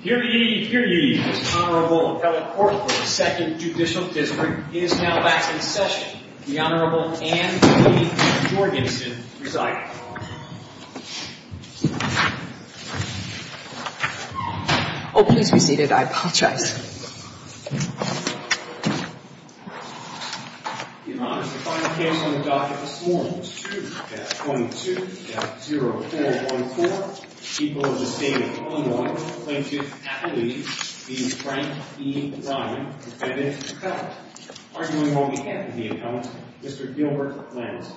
Here ye, here ye, Mr. Honorable Appellate Court of the Second Judicial District is now back in session. The Honorable Anne Lee Jorgensen presiding. Oh, please be seated. I apologize. Your Honor, the final case on the docket this morning is 2-22-0414. People of the State of Illinois claim to have the lead being Frank E. Diamond, defendant and appellant. Arguing on behalf of the appellant, Mr. Gilbert Lambert.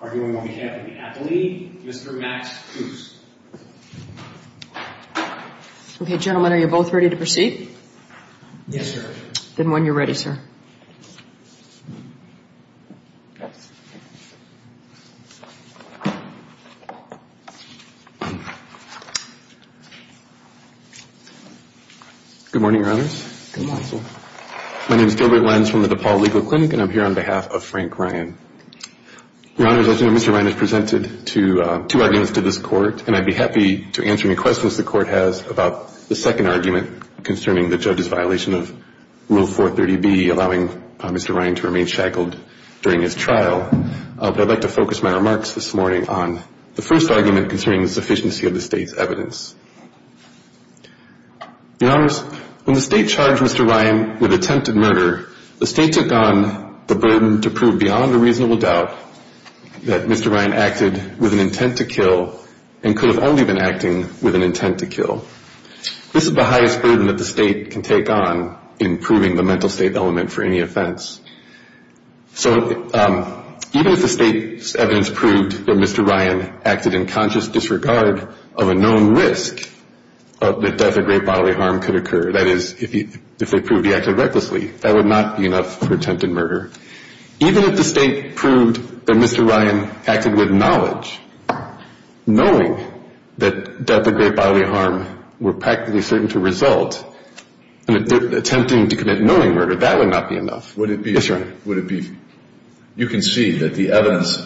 Arguing on behalf of the appellee, Mr. Max Coos. Okay, gentlemen, are you both ready to proceed? Yes, Your Honor. Then when you're ready, sir. Good morning, Your Honors. Good morning, sir. My name is Gilbert Lentz from the DePaul Legal Clinic, and I'm here on behalf of Frank Ryan. Your Honors, as you know, Mr. Ryan has presented two arguments to this Court, and I'd be happy to answer any questions the Court has about the second argument concerning the judge's violation of Rule 430B, allowing Mr. Ryan to remain shackled during his trial. But I'd like to focus my remarks this morning on the first argument concerning the sufficiency of this trial. Your Honors, when the State charged Mr. Ryan with attempted murder, the State took on the burden to prove beyond a reasonable doubt that Mr. Ryan acted with an intent to kill and could have only been acting with an intent to kill. This is the highest burden that the State can take on in proving the mental state element for any offense. So even if the State's evidence proved that Mr. Ryan acted in conscious disregard of a known risk that death or great bodily harm could occur, that is, if they proved he acted recklessly, that would not be enough for attempted murder. Even if the State proved that Mr. Ryan acted with knowledge, knowing that death or great bodily harm were practically certain to result, attempting to commit knowing murder, that would not be enough. Would it be? Yes, Your Honor. Would it be? You can see that the evidence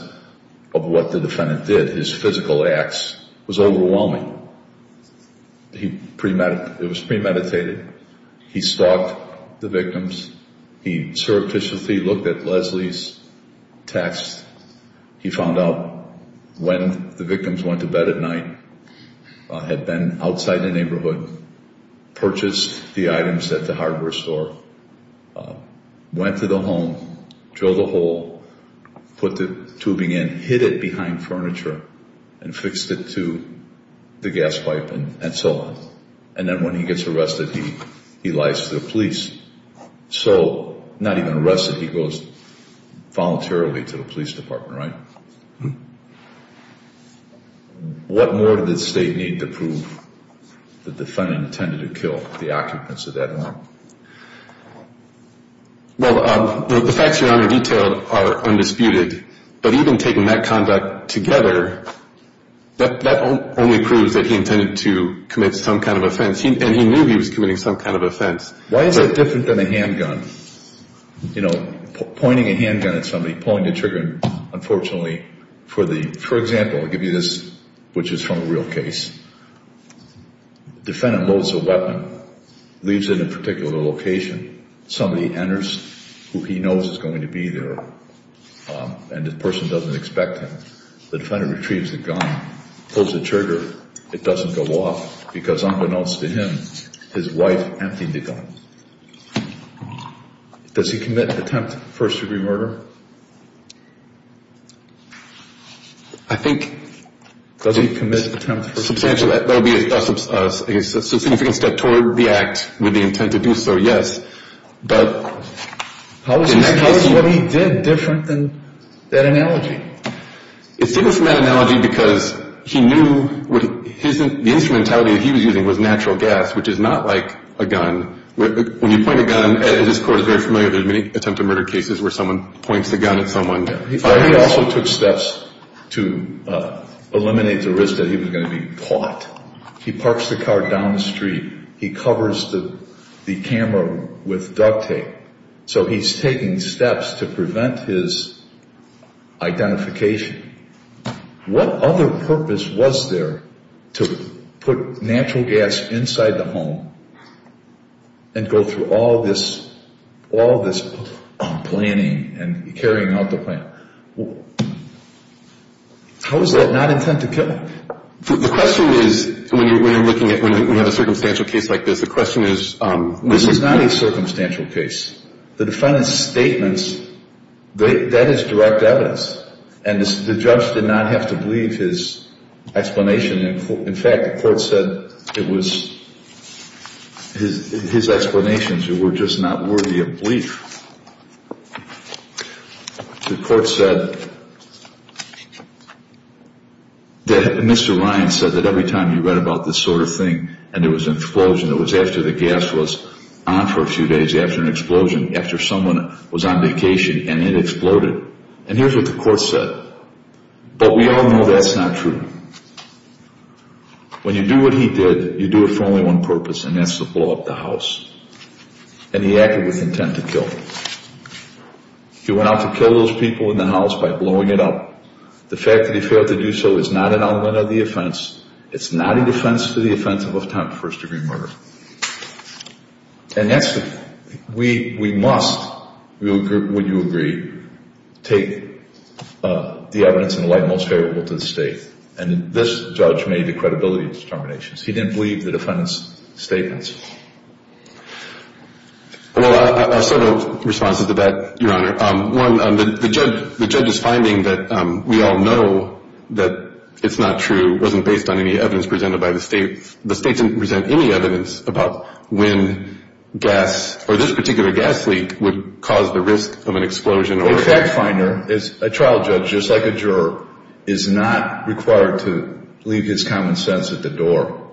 of what the defendant did, his physical acts, was overwhelming. It was premeditated. He stalked the victims. He surreptitiously looked at Leslie's text. He found out when the victims went to bed at night, had been outside the neighborhood, purchased the items at the hardware store, went to the home, drilled a hole, put the tubing in, hid it behind furniture, and fixed it to the gas pipe, and so on. And then when he gets arrested, he lies to the police. So, not even arrested, he goes voluntarily to the police department, right? What more did the State need to prove the defendant intended to kill the occupants of that home? Well, the facts, Your Honor, detailed are undisputed. But even taking that conduct together, that only proves that he intended to commit some kind of offense. And he knew he was committing some kind of offense. Why is it different than a handgun? You know, pointing a handgun at somebody, pulling the trigger, unfortunately, for the, for example, I'll give you this, which is from a real case. Defendant loads a weapon, leaves it in a particular location. Somebody enters who he knows is going to be there, and the person doesn't expect him. The defendant retrieves the gun, pulls the trigger. It doesn't go off, because unbeknownst to him, his wife emptied the gun. Does he commit attempt first-degree murder? I think... Does he commit attempt first-degree murder? Substantially, that would be a significant step toward the act with the intent to do so, yes. But in that case... How is what he did different than that analogy? It's different from that analogy because he knew what his, the instrumentality that he was using was natural gas, which is not like a gun. When you point a gun, as this Court is very familiar, there's many attempt to murder cases where someone points the gun at someone. He also took steps to eliminate the risk that he was going to be caught. He parks the car down the street. He covers the camera with duct tape. So he's taking steps to prevent his identification. What other purpose was there to put natural gas inside the home and go through all this planning and carrying out the plan? How is that not intent to kill him? The question is, when you're looking at, when you have a circumstantial case like this, the question is... This is not a circumstantial case. The defendant's statements, that is direct evidence. And the judge did not have to believe his explanation. In fact, the Court said it was his explanations that were just not worthy of belief. The Court said that Mr. Ryan said that every time you read about this sort of thing and there was an explosion, it was after the gas was on for a few days after an explosion, after someone was on vacation, and it exploded. And here's what the Court said. But we all know that's not true. When you do what he did, you do it for only one purpose, and that's to blow up the house. And he acted with intent to kill. He went out to kill those people in the house by blowing it up. The fact that he failed to do so is not an element of the offense. It's not a defense to the offense of a first-degree murder. And that's the thing. We must, would you agree, take the evidence in the light most favorable to the State. And this judge made the credibility determinations. He didn't believe the defendant's statements. Well, I'll start a response to that, Your Honor. One, the judge's finding that we all know that it's not true wasn't based on any evidence presented by the State. The State didn't present any evidence about when gas, or this particular gas leak, would cause the risk of an explosion. A fact finder, a trial judge, just like a juror, is not required to leave his common sense at the door.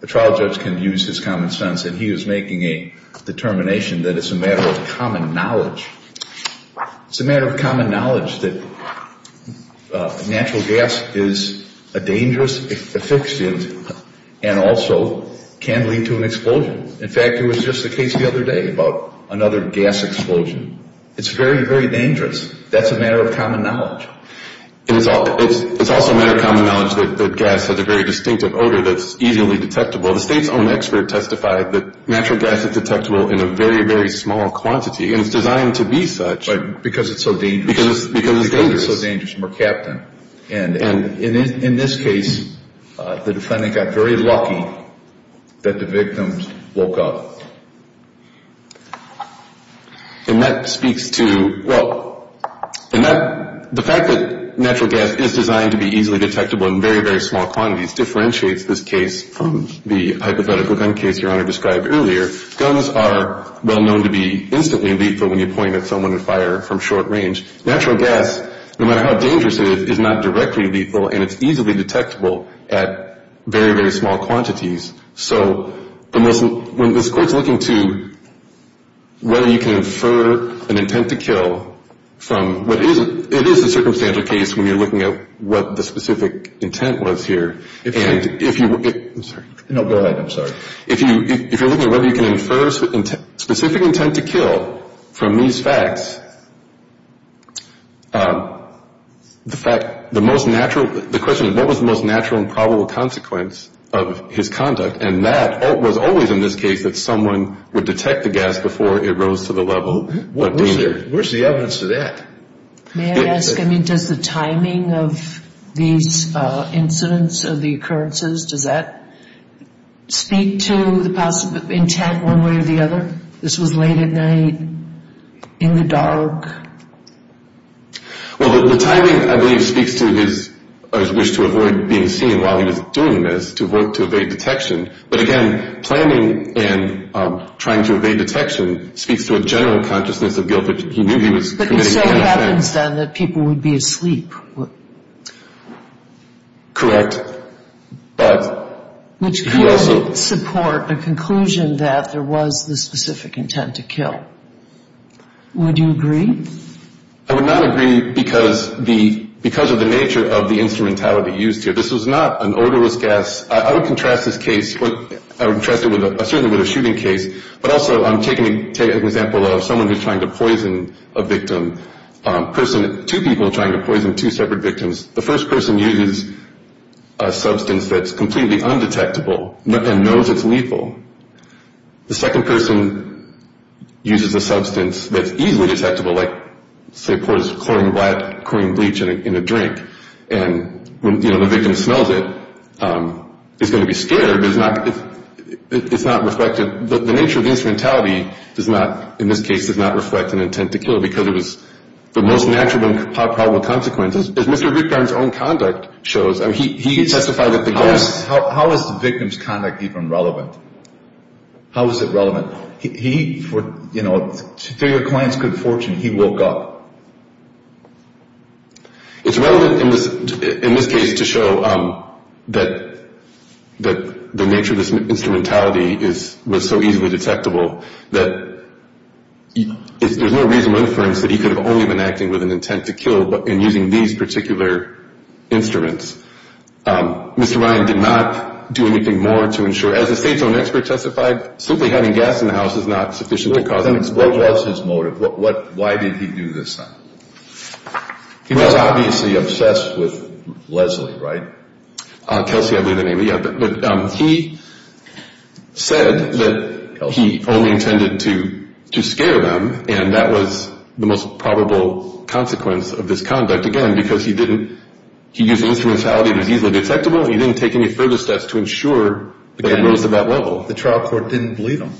A trial judge can use his common sense. And he was making a determination that it's a matter of common knowledge. It's a matter of common knowledge that natural gas is a dangerous efficient and also can lead to an explosion. In fact, it was just the case the other day about another gas explosion. It's very, very dangerous. That's a matter of common knowledge. And it's also a matter of common knowledge that gas has a very distinctive odor that's easily detectable. The State's own expert testified that natural gas is detectable in a very, very small quantity. And it's designed to be such. Because it's so dangerous. Because it's dangerous. Because it's so dangerous. And we're capped in. And in this case, the defendant got very lucky that the victims woke up. And that speaks to the fact that natural gas is designed to be easily detectable in very, very small quantities differentiates this case from the hypothetical gun case Your Honor described earlier. Guns are well known to be instantly lethal when you point at someone and fire from short range. Natural gas, no matter how dangerous it is, is not directly lethal. And it's easily detectable at very, very small quantities. So when this Court's looking to whether you can infer an intent to kill from what isn't, it is a circumstantial case when you're looking at what the specific intent was here. And if you, I'm sorry. No, go ahead. I'm sorry. If you're looking at whether you can infer specific intent to kill from these facts, the fact, the most natural, the question is what was the most natural and probable consequence of his conduct? And that was always in this case that someone would detect the gas before it rose to the level of danger. Where's the evidence to that? May I ask, I mean, does the timing of these incidents or the occurrences, does that speak to the intent one way or the other? This was late at night, in the dark. Well, the timing, I believe, speaks to his wish to avoid being seen while he was doing this, to avoid, to evade detection. But, again, planning and trying to evade detection speaks to a general consciousness of guilt that he knew he was committing. But you say it happens then that people would be asleep. Correct. Which could support a conclusion that there was the specific intent to kill. Would you agree? I would not agree because of the nature of the instrumentality used here. This was not an odorless gas. I would contrast this case, I would contrast it certainly with a shooting case, but also I'm taking an example of someone who's trying to poison a victim, two people trying to poison two separate victims. The first person uses a substance that's completely undetectable and knows it's lethal. The second person uses a substance that's easily detectable, like, say, pours chlorine bleach in a drink, and the victim smells it, is going to be scared, but it's not reflected. The nature of the instrumentality in this case does not reflect an intent to kill because it was the most natural and probable consequence. As Mr. Rickard's own conduct shows, he testified at the gas. How is the victim's conduct even relevant? How is it relevant? He, for your client's good fortune, he woke up. It's relevant in this case to show that the nature of this instrumentality was so easily detectable that there's no reasonable inference that he could have only been acting with an intent to kill, but in using these particular instruments. Mr. Ryan did not do anything more to ensure, as the state's own expert testified, simply having gas in the house is not sufficient to cause an explosion. What was his motive? Why did he do this? He was obviously obsessed with Leslie, right? Kelsey, I believe the name. Yeah, but he said that he only intended to scare them, and that was the most probable consequence of this conduct, again, because he used instrumentality that was easily detectable, and he didn't take any further steps to ensure that it was at that level. The trial court didn't believe him,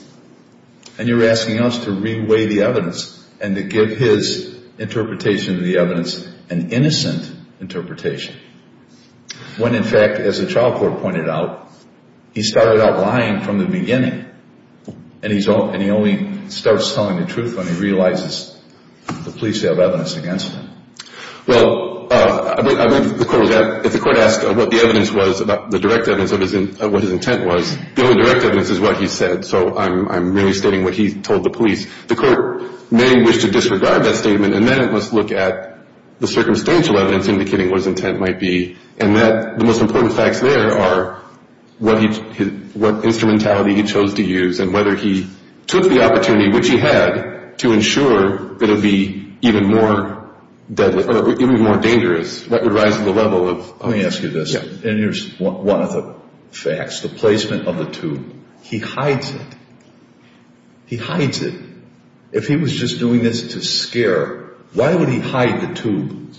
and you're asking us to reweigh the evidence and to give his interpretation of the evidence an innocent interpretation when, in fact, as the trial court pointed out, he started out lying from the beginning, and he only starts telling the truth when he realizes the police have evidence against him. Well, if the court asked what the evidence was, the direct evidence of what his intent was, the only direct evidence is what he said, so I'm really stating what he told the police. The court may wish to disregard that statement, and then it must look at the circumstantial evidence indicating what his intent might be, and the most important facts there are what instrumentality he chose to use and whether he took the opportunity, which he had, to ensure that it would be even more deadly, or even more dangerous, that would rise to the level of... Let me ask you this. Yeah. And here's one of the facts, the placement of the tube. He hides it. He hides it. If he was just doing this to scare, why would he hide the tube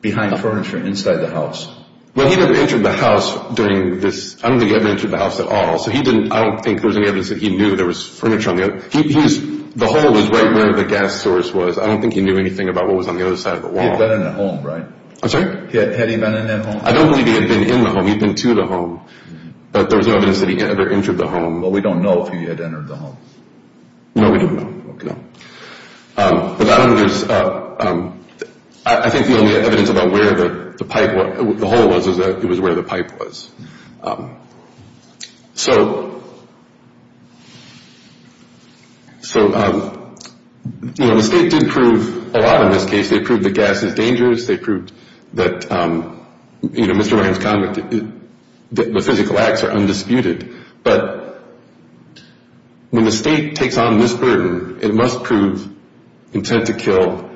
behind furniture inside the house? Well, he never entered the house during this. I don't think he ever entered the house at all, so I don't think there was any evidence that he knew there was furniture on the other... The hole was right where the gas source was. I don't think he knew anything about what was on the other side of the wall. He had been in the home, right? I'm sorry? Had he been in that home? I don't believe he had been in the home. He had been to the home, but there was no evidence that he entered the home. No, we don't know. Okay. But I don't think there's... I think the only evidence about where the pipe... The hole was is that it was where the pipe was. So... So, you know, the state did prove a lot in this case. They proved that gas is dangerous. They proved that, you know, Mr. Ryan's comment that the physical acts are undisputed. But when the state takes on this burden, it must prove intent to kill.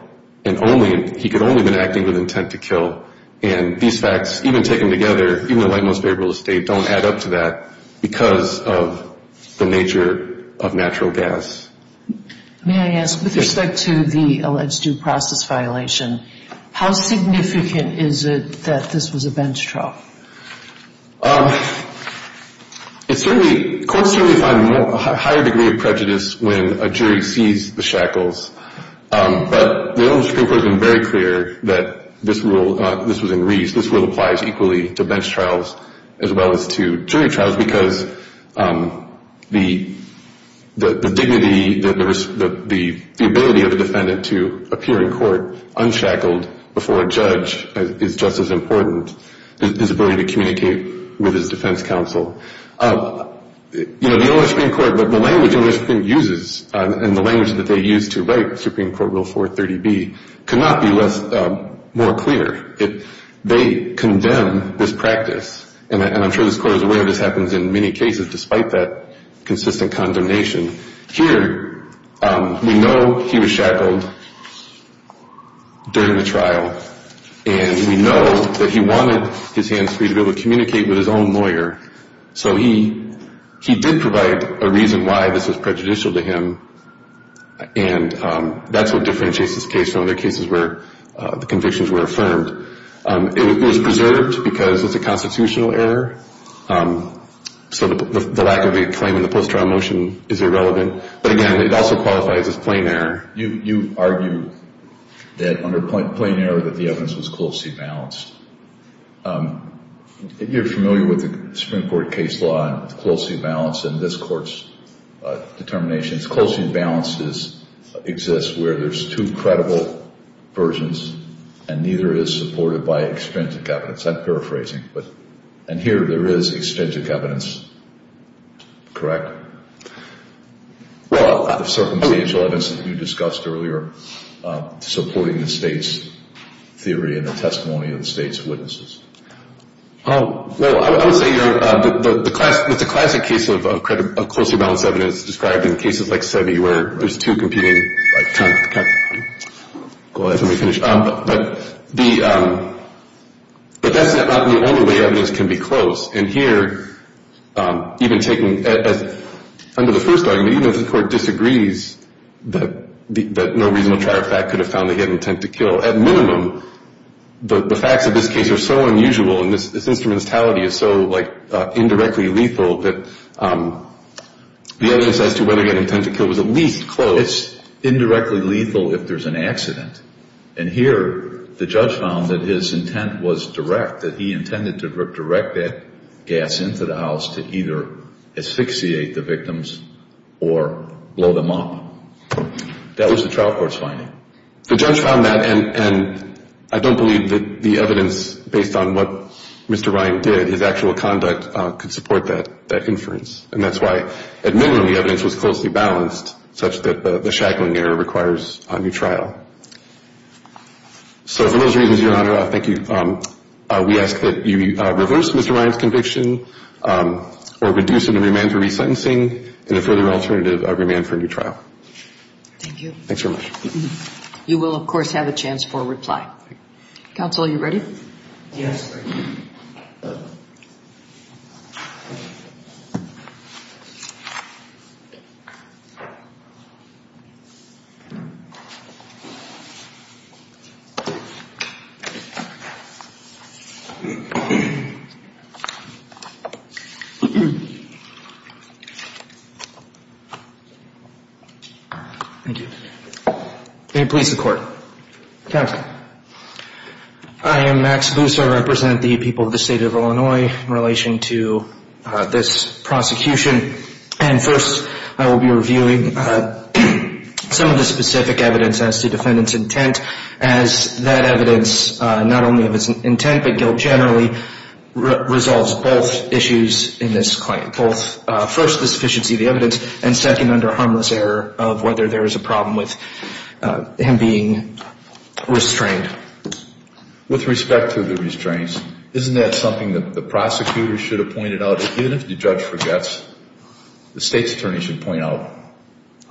And only... He could only have been acting with intent to kill. And these facts, even taken together, even in the light most favorable state, don't add up to that because of the nature of natural gas. May I ask, with respect to the alleged due process violation, how significant is it that this was a bench trial? It's certainly... Courts certainly find a higher degree of prejudice when a jury sees the shackles. But the old Supreme Court has been very clear that this rule... This was in Reese. This rule applies equally to bench trials as well as to jury trials because the dignity, the ability of a defendant to appear in court unshackled before a judge is just as important as his ability to communicate with his defense counsel. You know, the old Supreme Court... But the language the Supreme Court uses and the language that they use to write Supreme Court Rule 430B cannot be more clear. They condemn this practice. And I'm sure this Court is aware this happens in many cases despite that consistent condemnation. Here, we know he was shackled during the trial. And we know that he wanted his hands free to be able to communicate with his own lawyer. So he did provide a reason why this was prejudicial to him. And that's what differentiates this case from other cases where the convictions were affirmed. It was preserved because it's a constitutional error. So the lack of a claim in the post-trial motion is irrelevant. But, again, it also qualifies as plain error. You argue that under plain error that the evidence was closely balanced. You're familiar with the Supreme Court case law and closely balanced in this Court's determinations. Closely balanced exists where there's two credible versions and neither is supported by extrinsic evidence. I'm paraphrasing. And here there is extrinsic evidence, correct? Well, the circumstantial evidence that you discussed earlier supporting the State's theory and the testimony of the State's witnesses. Well, I would say it's a classic case of closely balanced evidence described in cases like Seve where there's two competing kinds of evidence. Let me finish. But that's not the only way evidence can be close. And here, even taking as under the first argument, even if the Court disagrees that no reasonable trial fact could have found the head intent to kill, at minimum, the facts of this case are so unusual and this instrumentality is so, like, indirectly lethal that the evidence as to whether the head intent to kill was at least close. It's indirectly lethal if there's an accident. And here the judge found that his intent was direct, that he intended to direct that gas into the house to either asphyxiate the victims or blow them up. That was the trial court's finding. The judge found that, and I don't believe that the evidence based on what Mr. Ryan did, his actual conduct, could support that inference. And that's why, at minimum, the evidence was closely balanced such that the shackling error requires a new trial. So for those reasons, Your Honor, thank you. We ask that you reverse Mr. Ryan's conviction or reduce it and remand for resentencing and a further alternative, remand for a new trial. Thank you. Thanks very much. You will, of course, have a chance for a reply. Counsel, are you ready? Yes. Thank you. May it please the Court. Counsel. I am Max Lusser. I represent the people of the State of Illinois in relation to this prosecution. And first I will be reviewing some of the specific evidence as to defendant's intent, as that evidence, not only of its intent but guilt generally, resolves both issues in this claim, both first the sufficiency of the evidence and second, under harmless error, of whether there is a problem with him being restrained. With respect to the restraints, isn't that something that the prosecutor should have pointed out? Even if the judge forgets, the State's attorney should point out,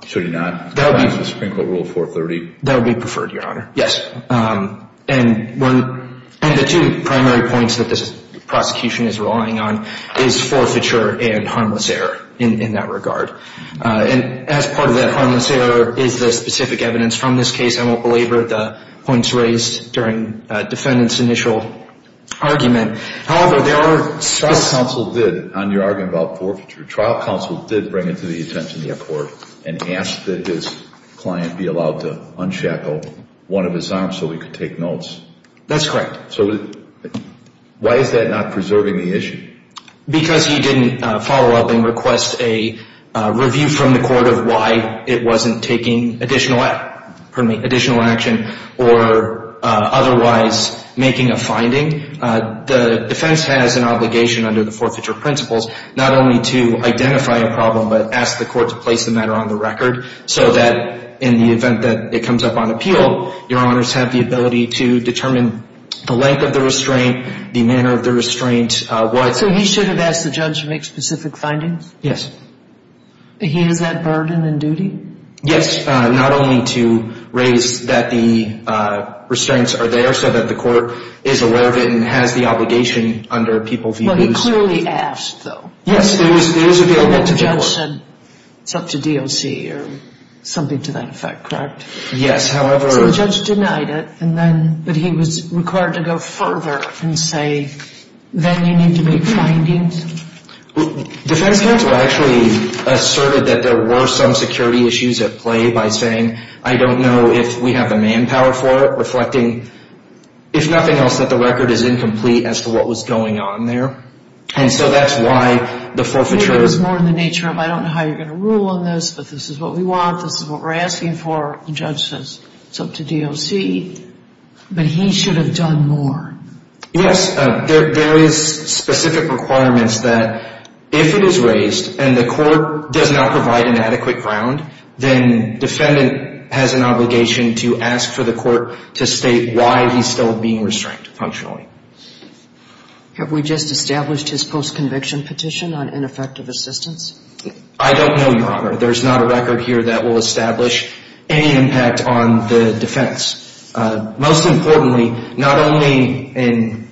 should he not? That would be the Supreme Court Rule 430. That would be preferred, Your Honor. Yes. And the two primary points that this prosecution is relying on is forfeiture and harmless error in that regard. And as part of that harmless error is the specific evidence from this case, I won't belabor the points raised during defendant's initial argument. However, there are specific... Trial counsel did, on your argument about forfeiture, trial counsel did bring it to the attention of the court and asked that his client be allowed to unshackle one of his arms so he could take notes. That's correct. So why is that not preserving the issue? Because he didn't follow up and request a review from the court of why it wasn't taking additional action or otherwise making a finding, the defense has an obligation under the forfeiture principles not only to identify a problem but ask the court to place the matter on the record so that in the event that it comes up on appeal, your honors have the ability to determine the length of the restraint, the manner of the restraint, what... So he should have asked the judge to make specific findings? Yes. He has that burden and duty? Yes. Not only to raise that the restraints are there so that the court is aware of it and has the obligation under people's views. Well, he clearly asked, though. Yes. It's up to DOC or something to that effect, correct? Yes. So the judge denied it, but he was required to go further and say, then you need to make findings? Defense counsel actually asserted that there were some security issues at play by saying, I don't know if we have the manpower for it, reflecting if nothing else that the record is incomplete as to what was going on there. And so that's why the forfeiture... Maybe it was more in the nature of I don't know how you're going to rule on this, but this is what we want, this is what we're asking for. The judge says it's up to DOC, but he should have done more. Yes. There is specific requirements that if it is raised and the court does not provide an adequate ground, then defendant has an obligation to ask for the court to state why he's still being restrained functionally. Have we just established his post-conviction petition on ineffective assistance? I don't know, Your Honor. There's not a record here that will establish any impact on the defense. Most importantly, not only in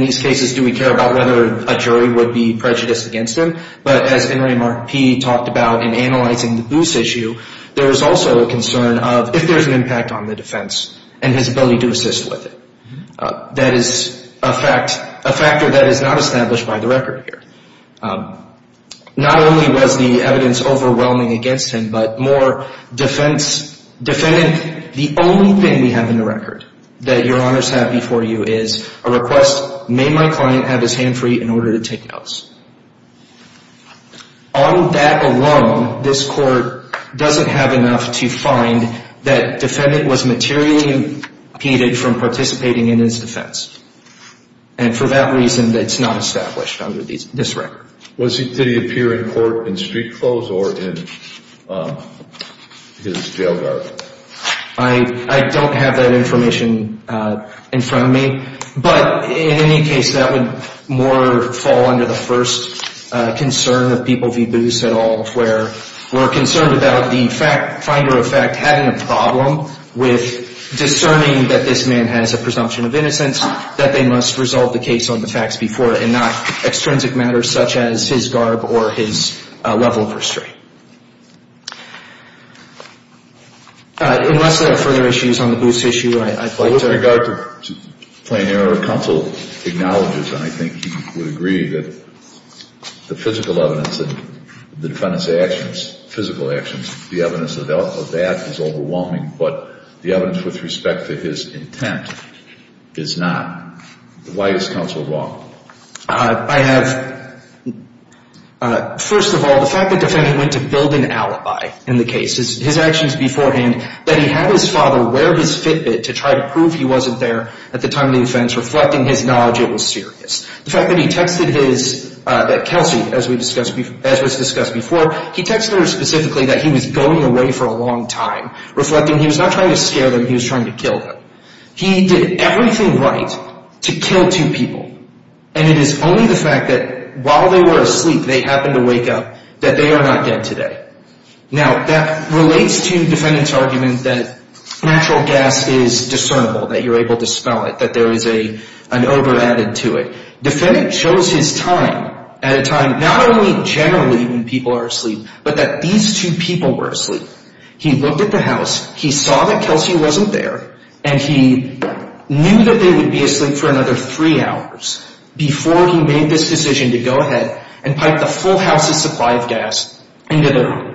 these cases do we care about whether a jury would be prejudiced against him, but as N. Ray Markpe talked about in analyzing the Booth issue, there is also a concern of if there's an impact on the defense and his ability to assist with it. That is a factor that is not established by the record here. Not only was the evidence overwhelming against him, but more, defendant, the only thing we have in the record that Your Honors have before you is a request, may my client have his hand free in order to take notice. On that alone, this court doesn't have enough to find that defendant was materially impeded from participating in his defense. And for that reason, it's not established under this record. Did he appear in court in street clothes or in his jail garb? I don't have that information in front of me. But in any case, that would more fall under the first concern of people v. Booth at all, where we're concerned about the finder of fact having a problem with discerning that this man has a presumption of innocence, that they must resolve the case on the facts before it and not extrinsic matters such as his garb or his level of restraint. Unless there are further issues on the Booth issue, I'd like to – With regard to plain error, counsel acknowledges, and I think he would agree, that the physical evidence that the defendant's actions, physical actions, the evidence of that is overwhelming, but the evidence with respect to his intent is not. Why is counsel wrong? I have – first of all, the fact that the defendant went to build an alibi in the case, his actions beforehand, that he had his father wear his Fitbit to try to prove he wasn't there at the time of the offense, reflecting his knowledge it was serious. The fact that he texted his – that Kelsey, as was discussed before, he texted her specifically that he was going away for a long time, reflecting he was not trying to scare them, he was trying to kill them. He did everything right to kill two people, and it is only the fact that while they were asleep, they happened to wake up, that they are not dead today. Now, that relates to defendant's argument that natural gas is discernible, that you're able to smell it, that there is an over added to it. Defendant chose his time at a time, not only generally when people are asleep, but that these two people were asleep. He looked at the house, he saw that Kelsey wasn't there, and he knew that they would be asleep for another three hours before he made this decision to go ahead and pipe the full house's supply of gas into their home.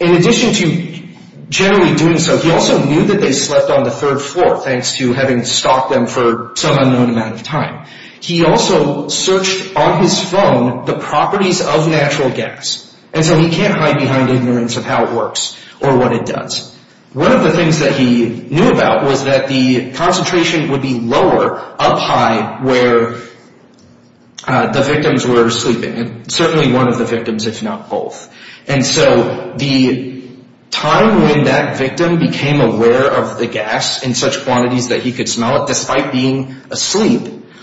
In addition to generally doing so, he also knew that they slept on the third floor, thanks to having stalked them for some unknown amount of time. He also searched on his phone the properties of natural gas, and so he can't hide behind ignorance of how it works or what it does. One of the things that he knew about was that the concentration would be lower, or up high, where the victims were sleeping. Certainly one of the victims, if not both. And so the time when that victim became aware of the gas in such quantities that he could smell it, despite being asleep,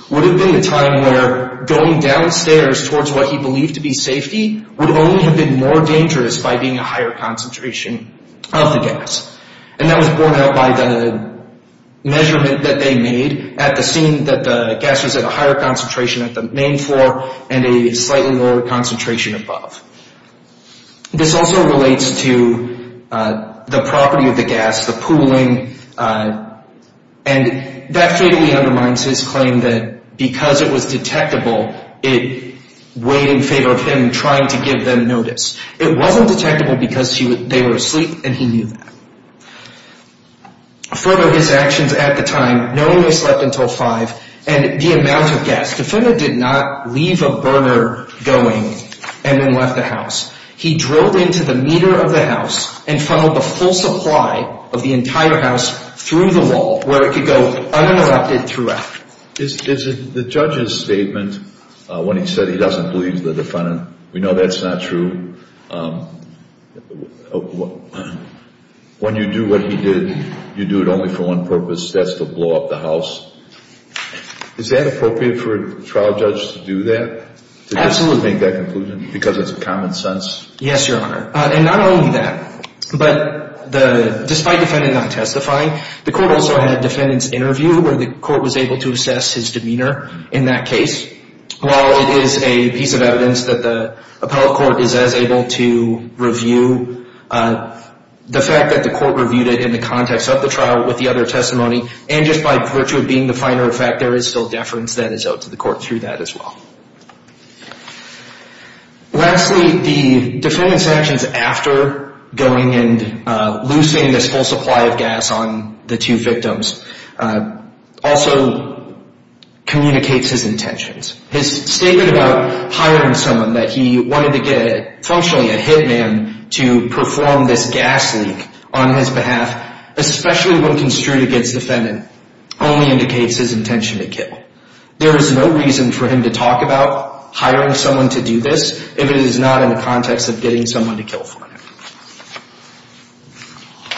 would have been the time where going downstairs towards what he believed to be safety would only have been more dangerous by being a higher concentration of the gas. And that was borne out by the measurement that they made at the scene that the gas was at a higher concentration at the main floor and a slightly lower concentration above. This also relates to the property of the gas, the pooling, and that fatally undermines his claim that because it was detectable, it weighed in favor of him trying to give them notice. It wasn't detectable because they were asleep and he knew that. Further, his actions at the time, knowing they slept until 5, and the amount of gas. Defendant did not leave a burner going and then left the house. He drilled into the meter of the house and funneled the full supply of the entire house through the wall where it could go uninterrupted throughout. Is the judge's statement, when he said he doesn't believe the defendant, we know that's not true. When you do what he did, you do it only for one purpose. That's to blow up the house. Is that appropriate for a trial judge to do that? Absolutely. To make that conclusion because it's common sense? Yes, Your Honor. And not only that, but despite the defendant not testifying, the court also had a defendant's interview where the court was able to assess his demeanor in that case. While it is a piece of evidence that the appellate court is as able to review, the fact that the court reviewed it in the context of the trial with the other testimony, and just by virtue of being the finer of fact, there is still deference that is owed to the court through that as well. Lastly, the defendant's actions after going and loosing this full supply of gas on the two victims also communicates his intentions. His statement about hiring someone that he wanted to get, functionally a hit man to perform this gas leak on his behalf, especially when construed against the defendant, only indicates his intention to kill. There is no reason for him to talk about hiring someone to do this if it is not in the context of getting someone to kill for him.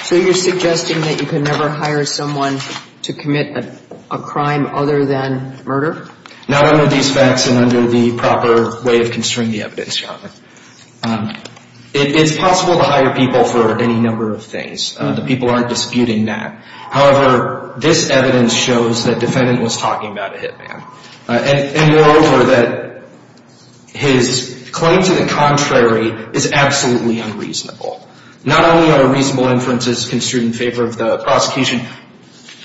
So you're suggesting that you can never hire someone to commit a crime other than murder? Not under these facts and under the proper way of construing the evidence, Your Honor. It is possible to hire people for any number of things. The people aren't disputing that. However, this evidence shows that the defendant was talking about a hit man. And moreover, that his claim to the contrary is absolutely unreasonable. Not only are reasonable inferences construed in favor of the prosecution,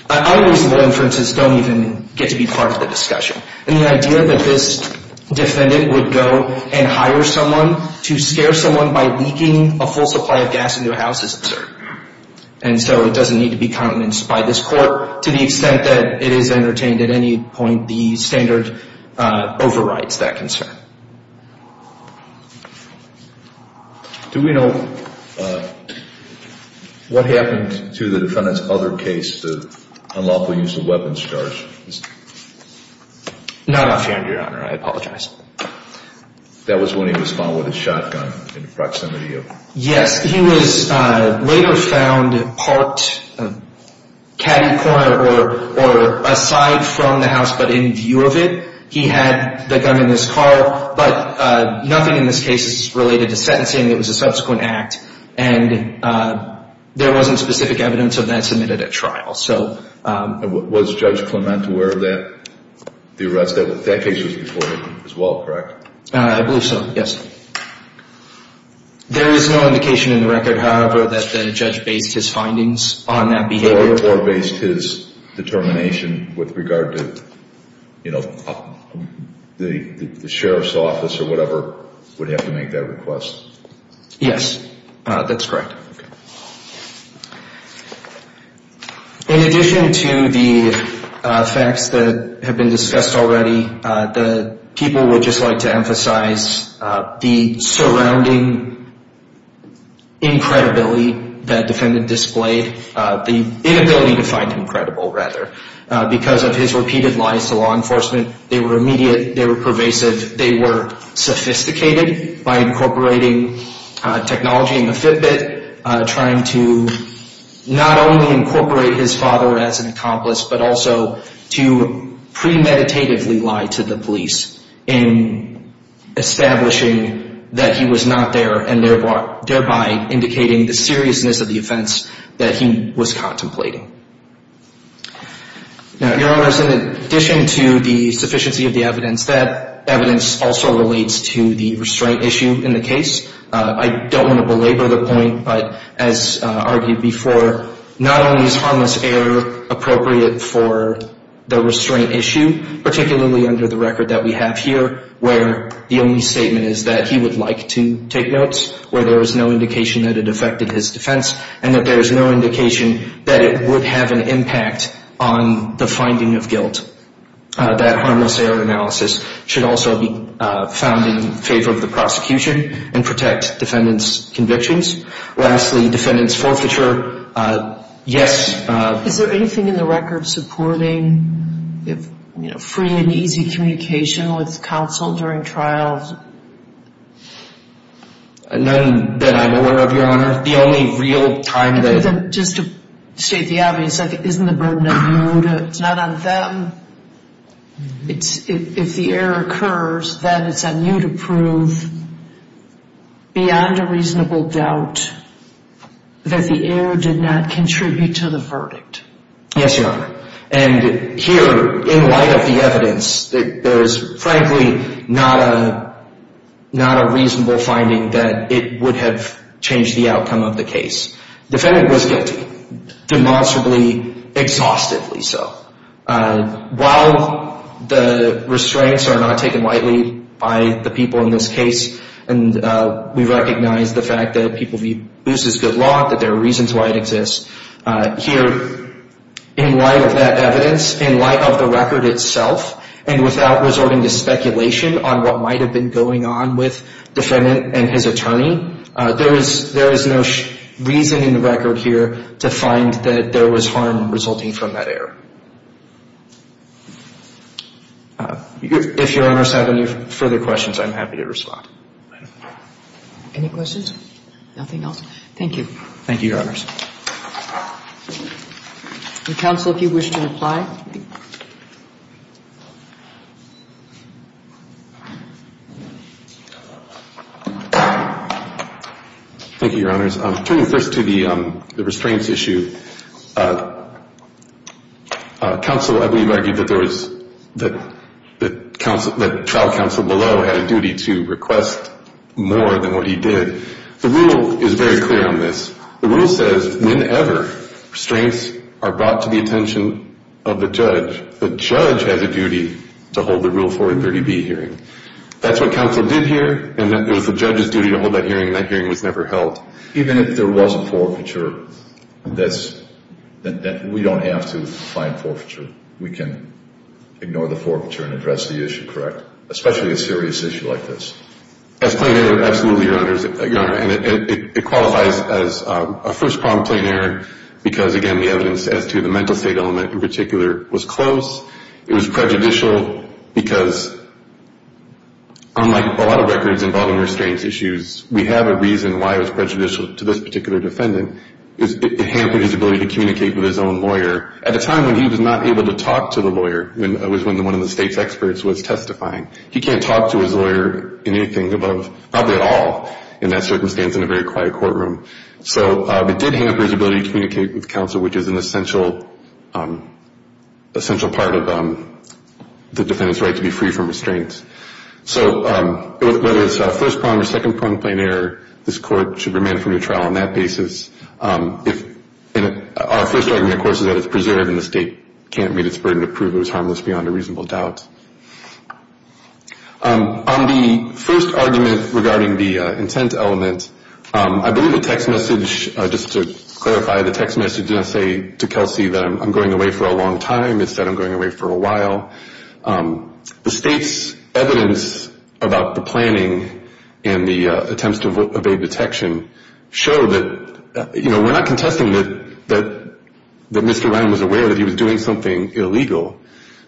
unreasonable inferences don't even get to be part of the discussion. And the idea that this defendant would go and hire someone to scare someone by leaking a full supply of gas into a house is absurd. And so it doesn't need to be countenanced by this court to the extent that it is entertained at any point. The standard overrides that concern. Do we know what happened to the defendant's other case, the unlawful use of weapons charge? Not offhand, Your Honor. I apologize. That was when he was found with a shotgun in the proximity of... Yes, he was later found parked in a caddy corner or aside from the house, but in view of it. He had the gun in his car, but nothing in this case is related to sentencing. It was a subsequent act. And there wasn't specific evidence of that submitted at trial. Was Judge Clement aware of that? That case was reported as well, correct? I believe so, yes. There is no indication in the record, however, that the judge based his findings on that behavior. Or based his determination with regard to the sheriff's office or whatever would have to make that request. Yes, that's correct. In addition to the facts that have been discussed already, the people would just like to emphasize the surrounding incredibility that the defendant displayed. The inability to find him credible, rather. Because of his repeated lies to law enforcement, they were immediate, they were pervasive, they were sophisticated by incorporating technology in the Fitbit, trying to not only incorporate his father as an accomplice, but also to premeditatively lie to the police in establishing that he was not there, and thereby indicating the seriousness of the offense that he was contemplating. Now, Your Honors, in addition to the sufficiency of the evidence, that evidence also relates to the restraint issue in the case. I don't want to belabor the point, but as argued before, not only is harmless error appropriate for the restraint issue, particularly under the record that we have here, where the only statement is that he would like to take notes, where there is no indication that it affected his defense, and that there is no indication that it would have an impact on the finding of guilt. That harmless error analysis should also be found in favor of the prosecution and protect defendants' convictions. Lastly, defendants' forfeiture, yes. Is there anything in the record supporting free and easy communication with counsel during trials? Just to state the obvious, isn't the burden on you? It's not on them. If the error occurs, then it's on you to prove beyond a reasonable doubt that the error did not contribute to the verdict. Yes, Your Honor. And here, in light of the evidence, there is frankly not a reasonable finding that it would have changed the outcome of the case. Defendant was guilty, demonstrably, exhaustively so. While the restraints are not taken lightly by the people in this case, and we recognize the fact that people view abuse as good law, that there are reasons why it exists, here, in light of that evidence, in light of the record itself, and without resorting to speculation on what might have been going on with defendant and his attorney, there is no reason in the record here to find that there was harm resulting from that error. If Your Honors have any further questions, I'm happy to respond. Any questions? Nothing else? Thank you. Thank you, Your Honors. Counsel, if you wish to reply. Thank you, Your Honors. Turning first to the restraints issue, counsel, I believe, argued that there was the trial counsel below had a duty to request more than what he did. The rule is very clear on this. The rule says, whenever restraints are brought to the attention of the judge, the judge has a duty to hold the Rule 430B hearing. That's what counsel did here, and it was the judge's duty to hold that hearing, and that hearing was never held. Even if there was a forfeiture, we don't have to find forfeiture. We can ignore the forfeiture and address the issue, correct? Especially a serious issue like this. Absolutely, Your Honors. It qualifies as a first problem, plain error, because, again, the evidence as to the mental state element in particular was close. It was prejudicial because, unlike a lot of records involving restraints issues, we have a reason why it was prejudicial to this particular defendant. It hampered his ability to communicate with his own lawyer. At a time when he was not able to talk to the lawyer, it was when one of the state's experts was testifying, he can't talk to his lawyer in anything above, probably at all in that circumstance in a very quiet courtroom. So it did hamper his ability to communicate with counsel, which is an essential part of the defendant's right to be free from restraints. So whether it's a first problem or second problem, plain error, this Court should remand him to trial on that basis. Our first argument, of course, is that it's preserved and the state can't meet its burden to prove it was harmless beyond a reasonable doubt. On the first argument regarding the intent element, I believe the text message, just to clarify, the text message didn't say to Kelsey that I'm going away for a long time. It said I'm going away for a while. The state's evidence about the planning and the attempts to evade detection show that, you know, we're not contesting that Mr. Ryan was aware that he was doing something illegal,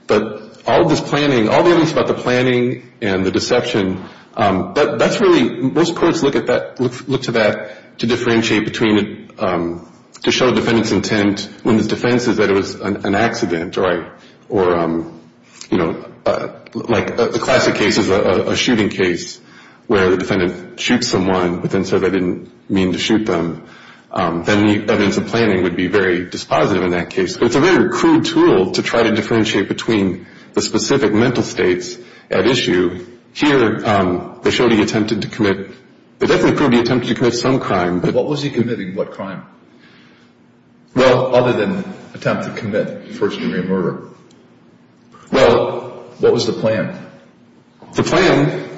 but all this planning, all the evidence about the planning and the deception, that's really, most courts look at that, look to that to differentiate between, to show the defendant's intent when the defense is that it was an accident or, you know, like the classic case is a shooting case where the defendant shoots someone but then says I didn't mean to shoot them. Then the evidence of planning would be very dispositive in that case. It's a very crude tool to try to differentiate between the specific mental states at issue. Here, they showed he attempted to commit, they definitely proved he attempted to commit some crime. What was he committing? What crime? Well, other than attempt to commit first degree murder. Well, what was the plan? The plan,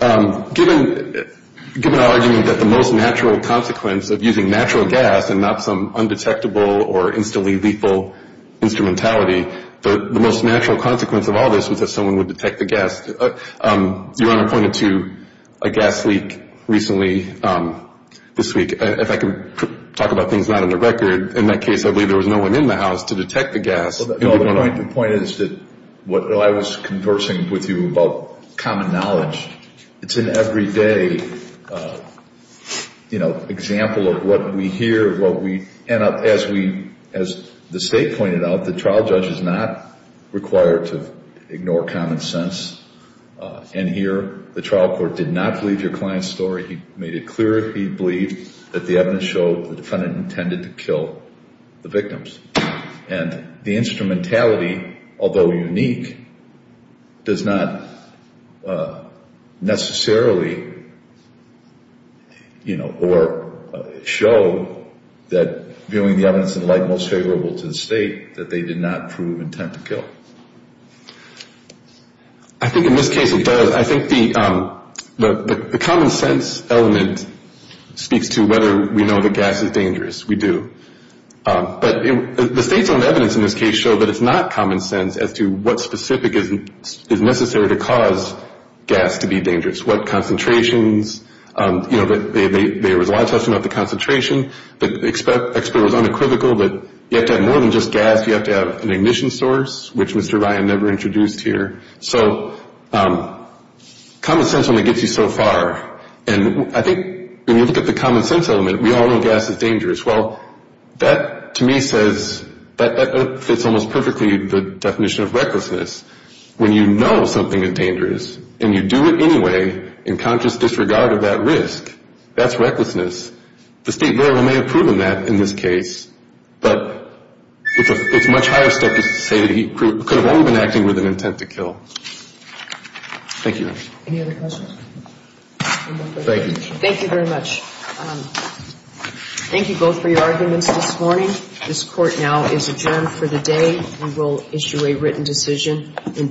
given our argument that the most natural consequence of using natural gas and not some undetectable or instantly lethal instrumentality, the most natural consequence of all this was that someone would detect the gas. Your Honor pointed to a gas leak recently, this week. If I could talk about things not on the record, in that case I believe there was no one in the house to detect the gas. Well, the point is that what I was conversing with you about common knowledge, it's an everyday, you know, example of what we hear, what we end up as we, as the State pointed out, the trial judge is not required to ignore common sense. And here the trial court did not believe your client's story. He made it clear he believed that the evidence showed the defendant intended to kill the victims. And the instrumentality, although unique, does not necessarily, you know, or show that viewing the evidence in light most favorable to the State, that they did not prove intent to kill. I think in this case it does. I think the common sense element speaks to whether we know the gas is dangerous. We do. But the State's own evidence in this case showed that it's not common sense as to what specific is necessary to cause gas to be dangerous, what concentrations. You know, there was a lot of discussion about the concentration. The expert was unequivocal that you have to have more than just gas. You have to have an ignition source, which Mr. Ryan never introduced here. So common sense only gets you so far. And I think when you look at the common sense element, we all know gas is dangerous. Well, that to me says that fits almost perfectly the definition of recklessness. When you know something is dangerous and you do it anyway in conscious disregard of that risk, that's recklessness. The State may have proven that in this case, but it's a much higher step to say that he could have only been acting with an intent to kill. Thank you. Any other questions? Thank you. Thank you very much. Thank you both for your arguments this morning. This Court now is adjourned for the day. We will issue a written decision in due course.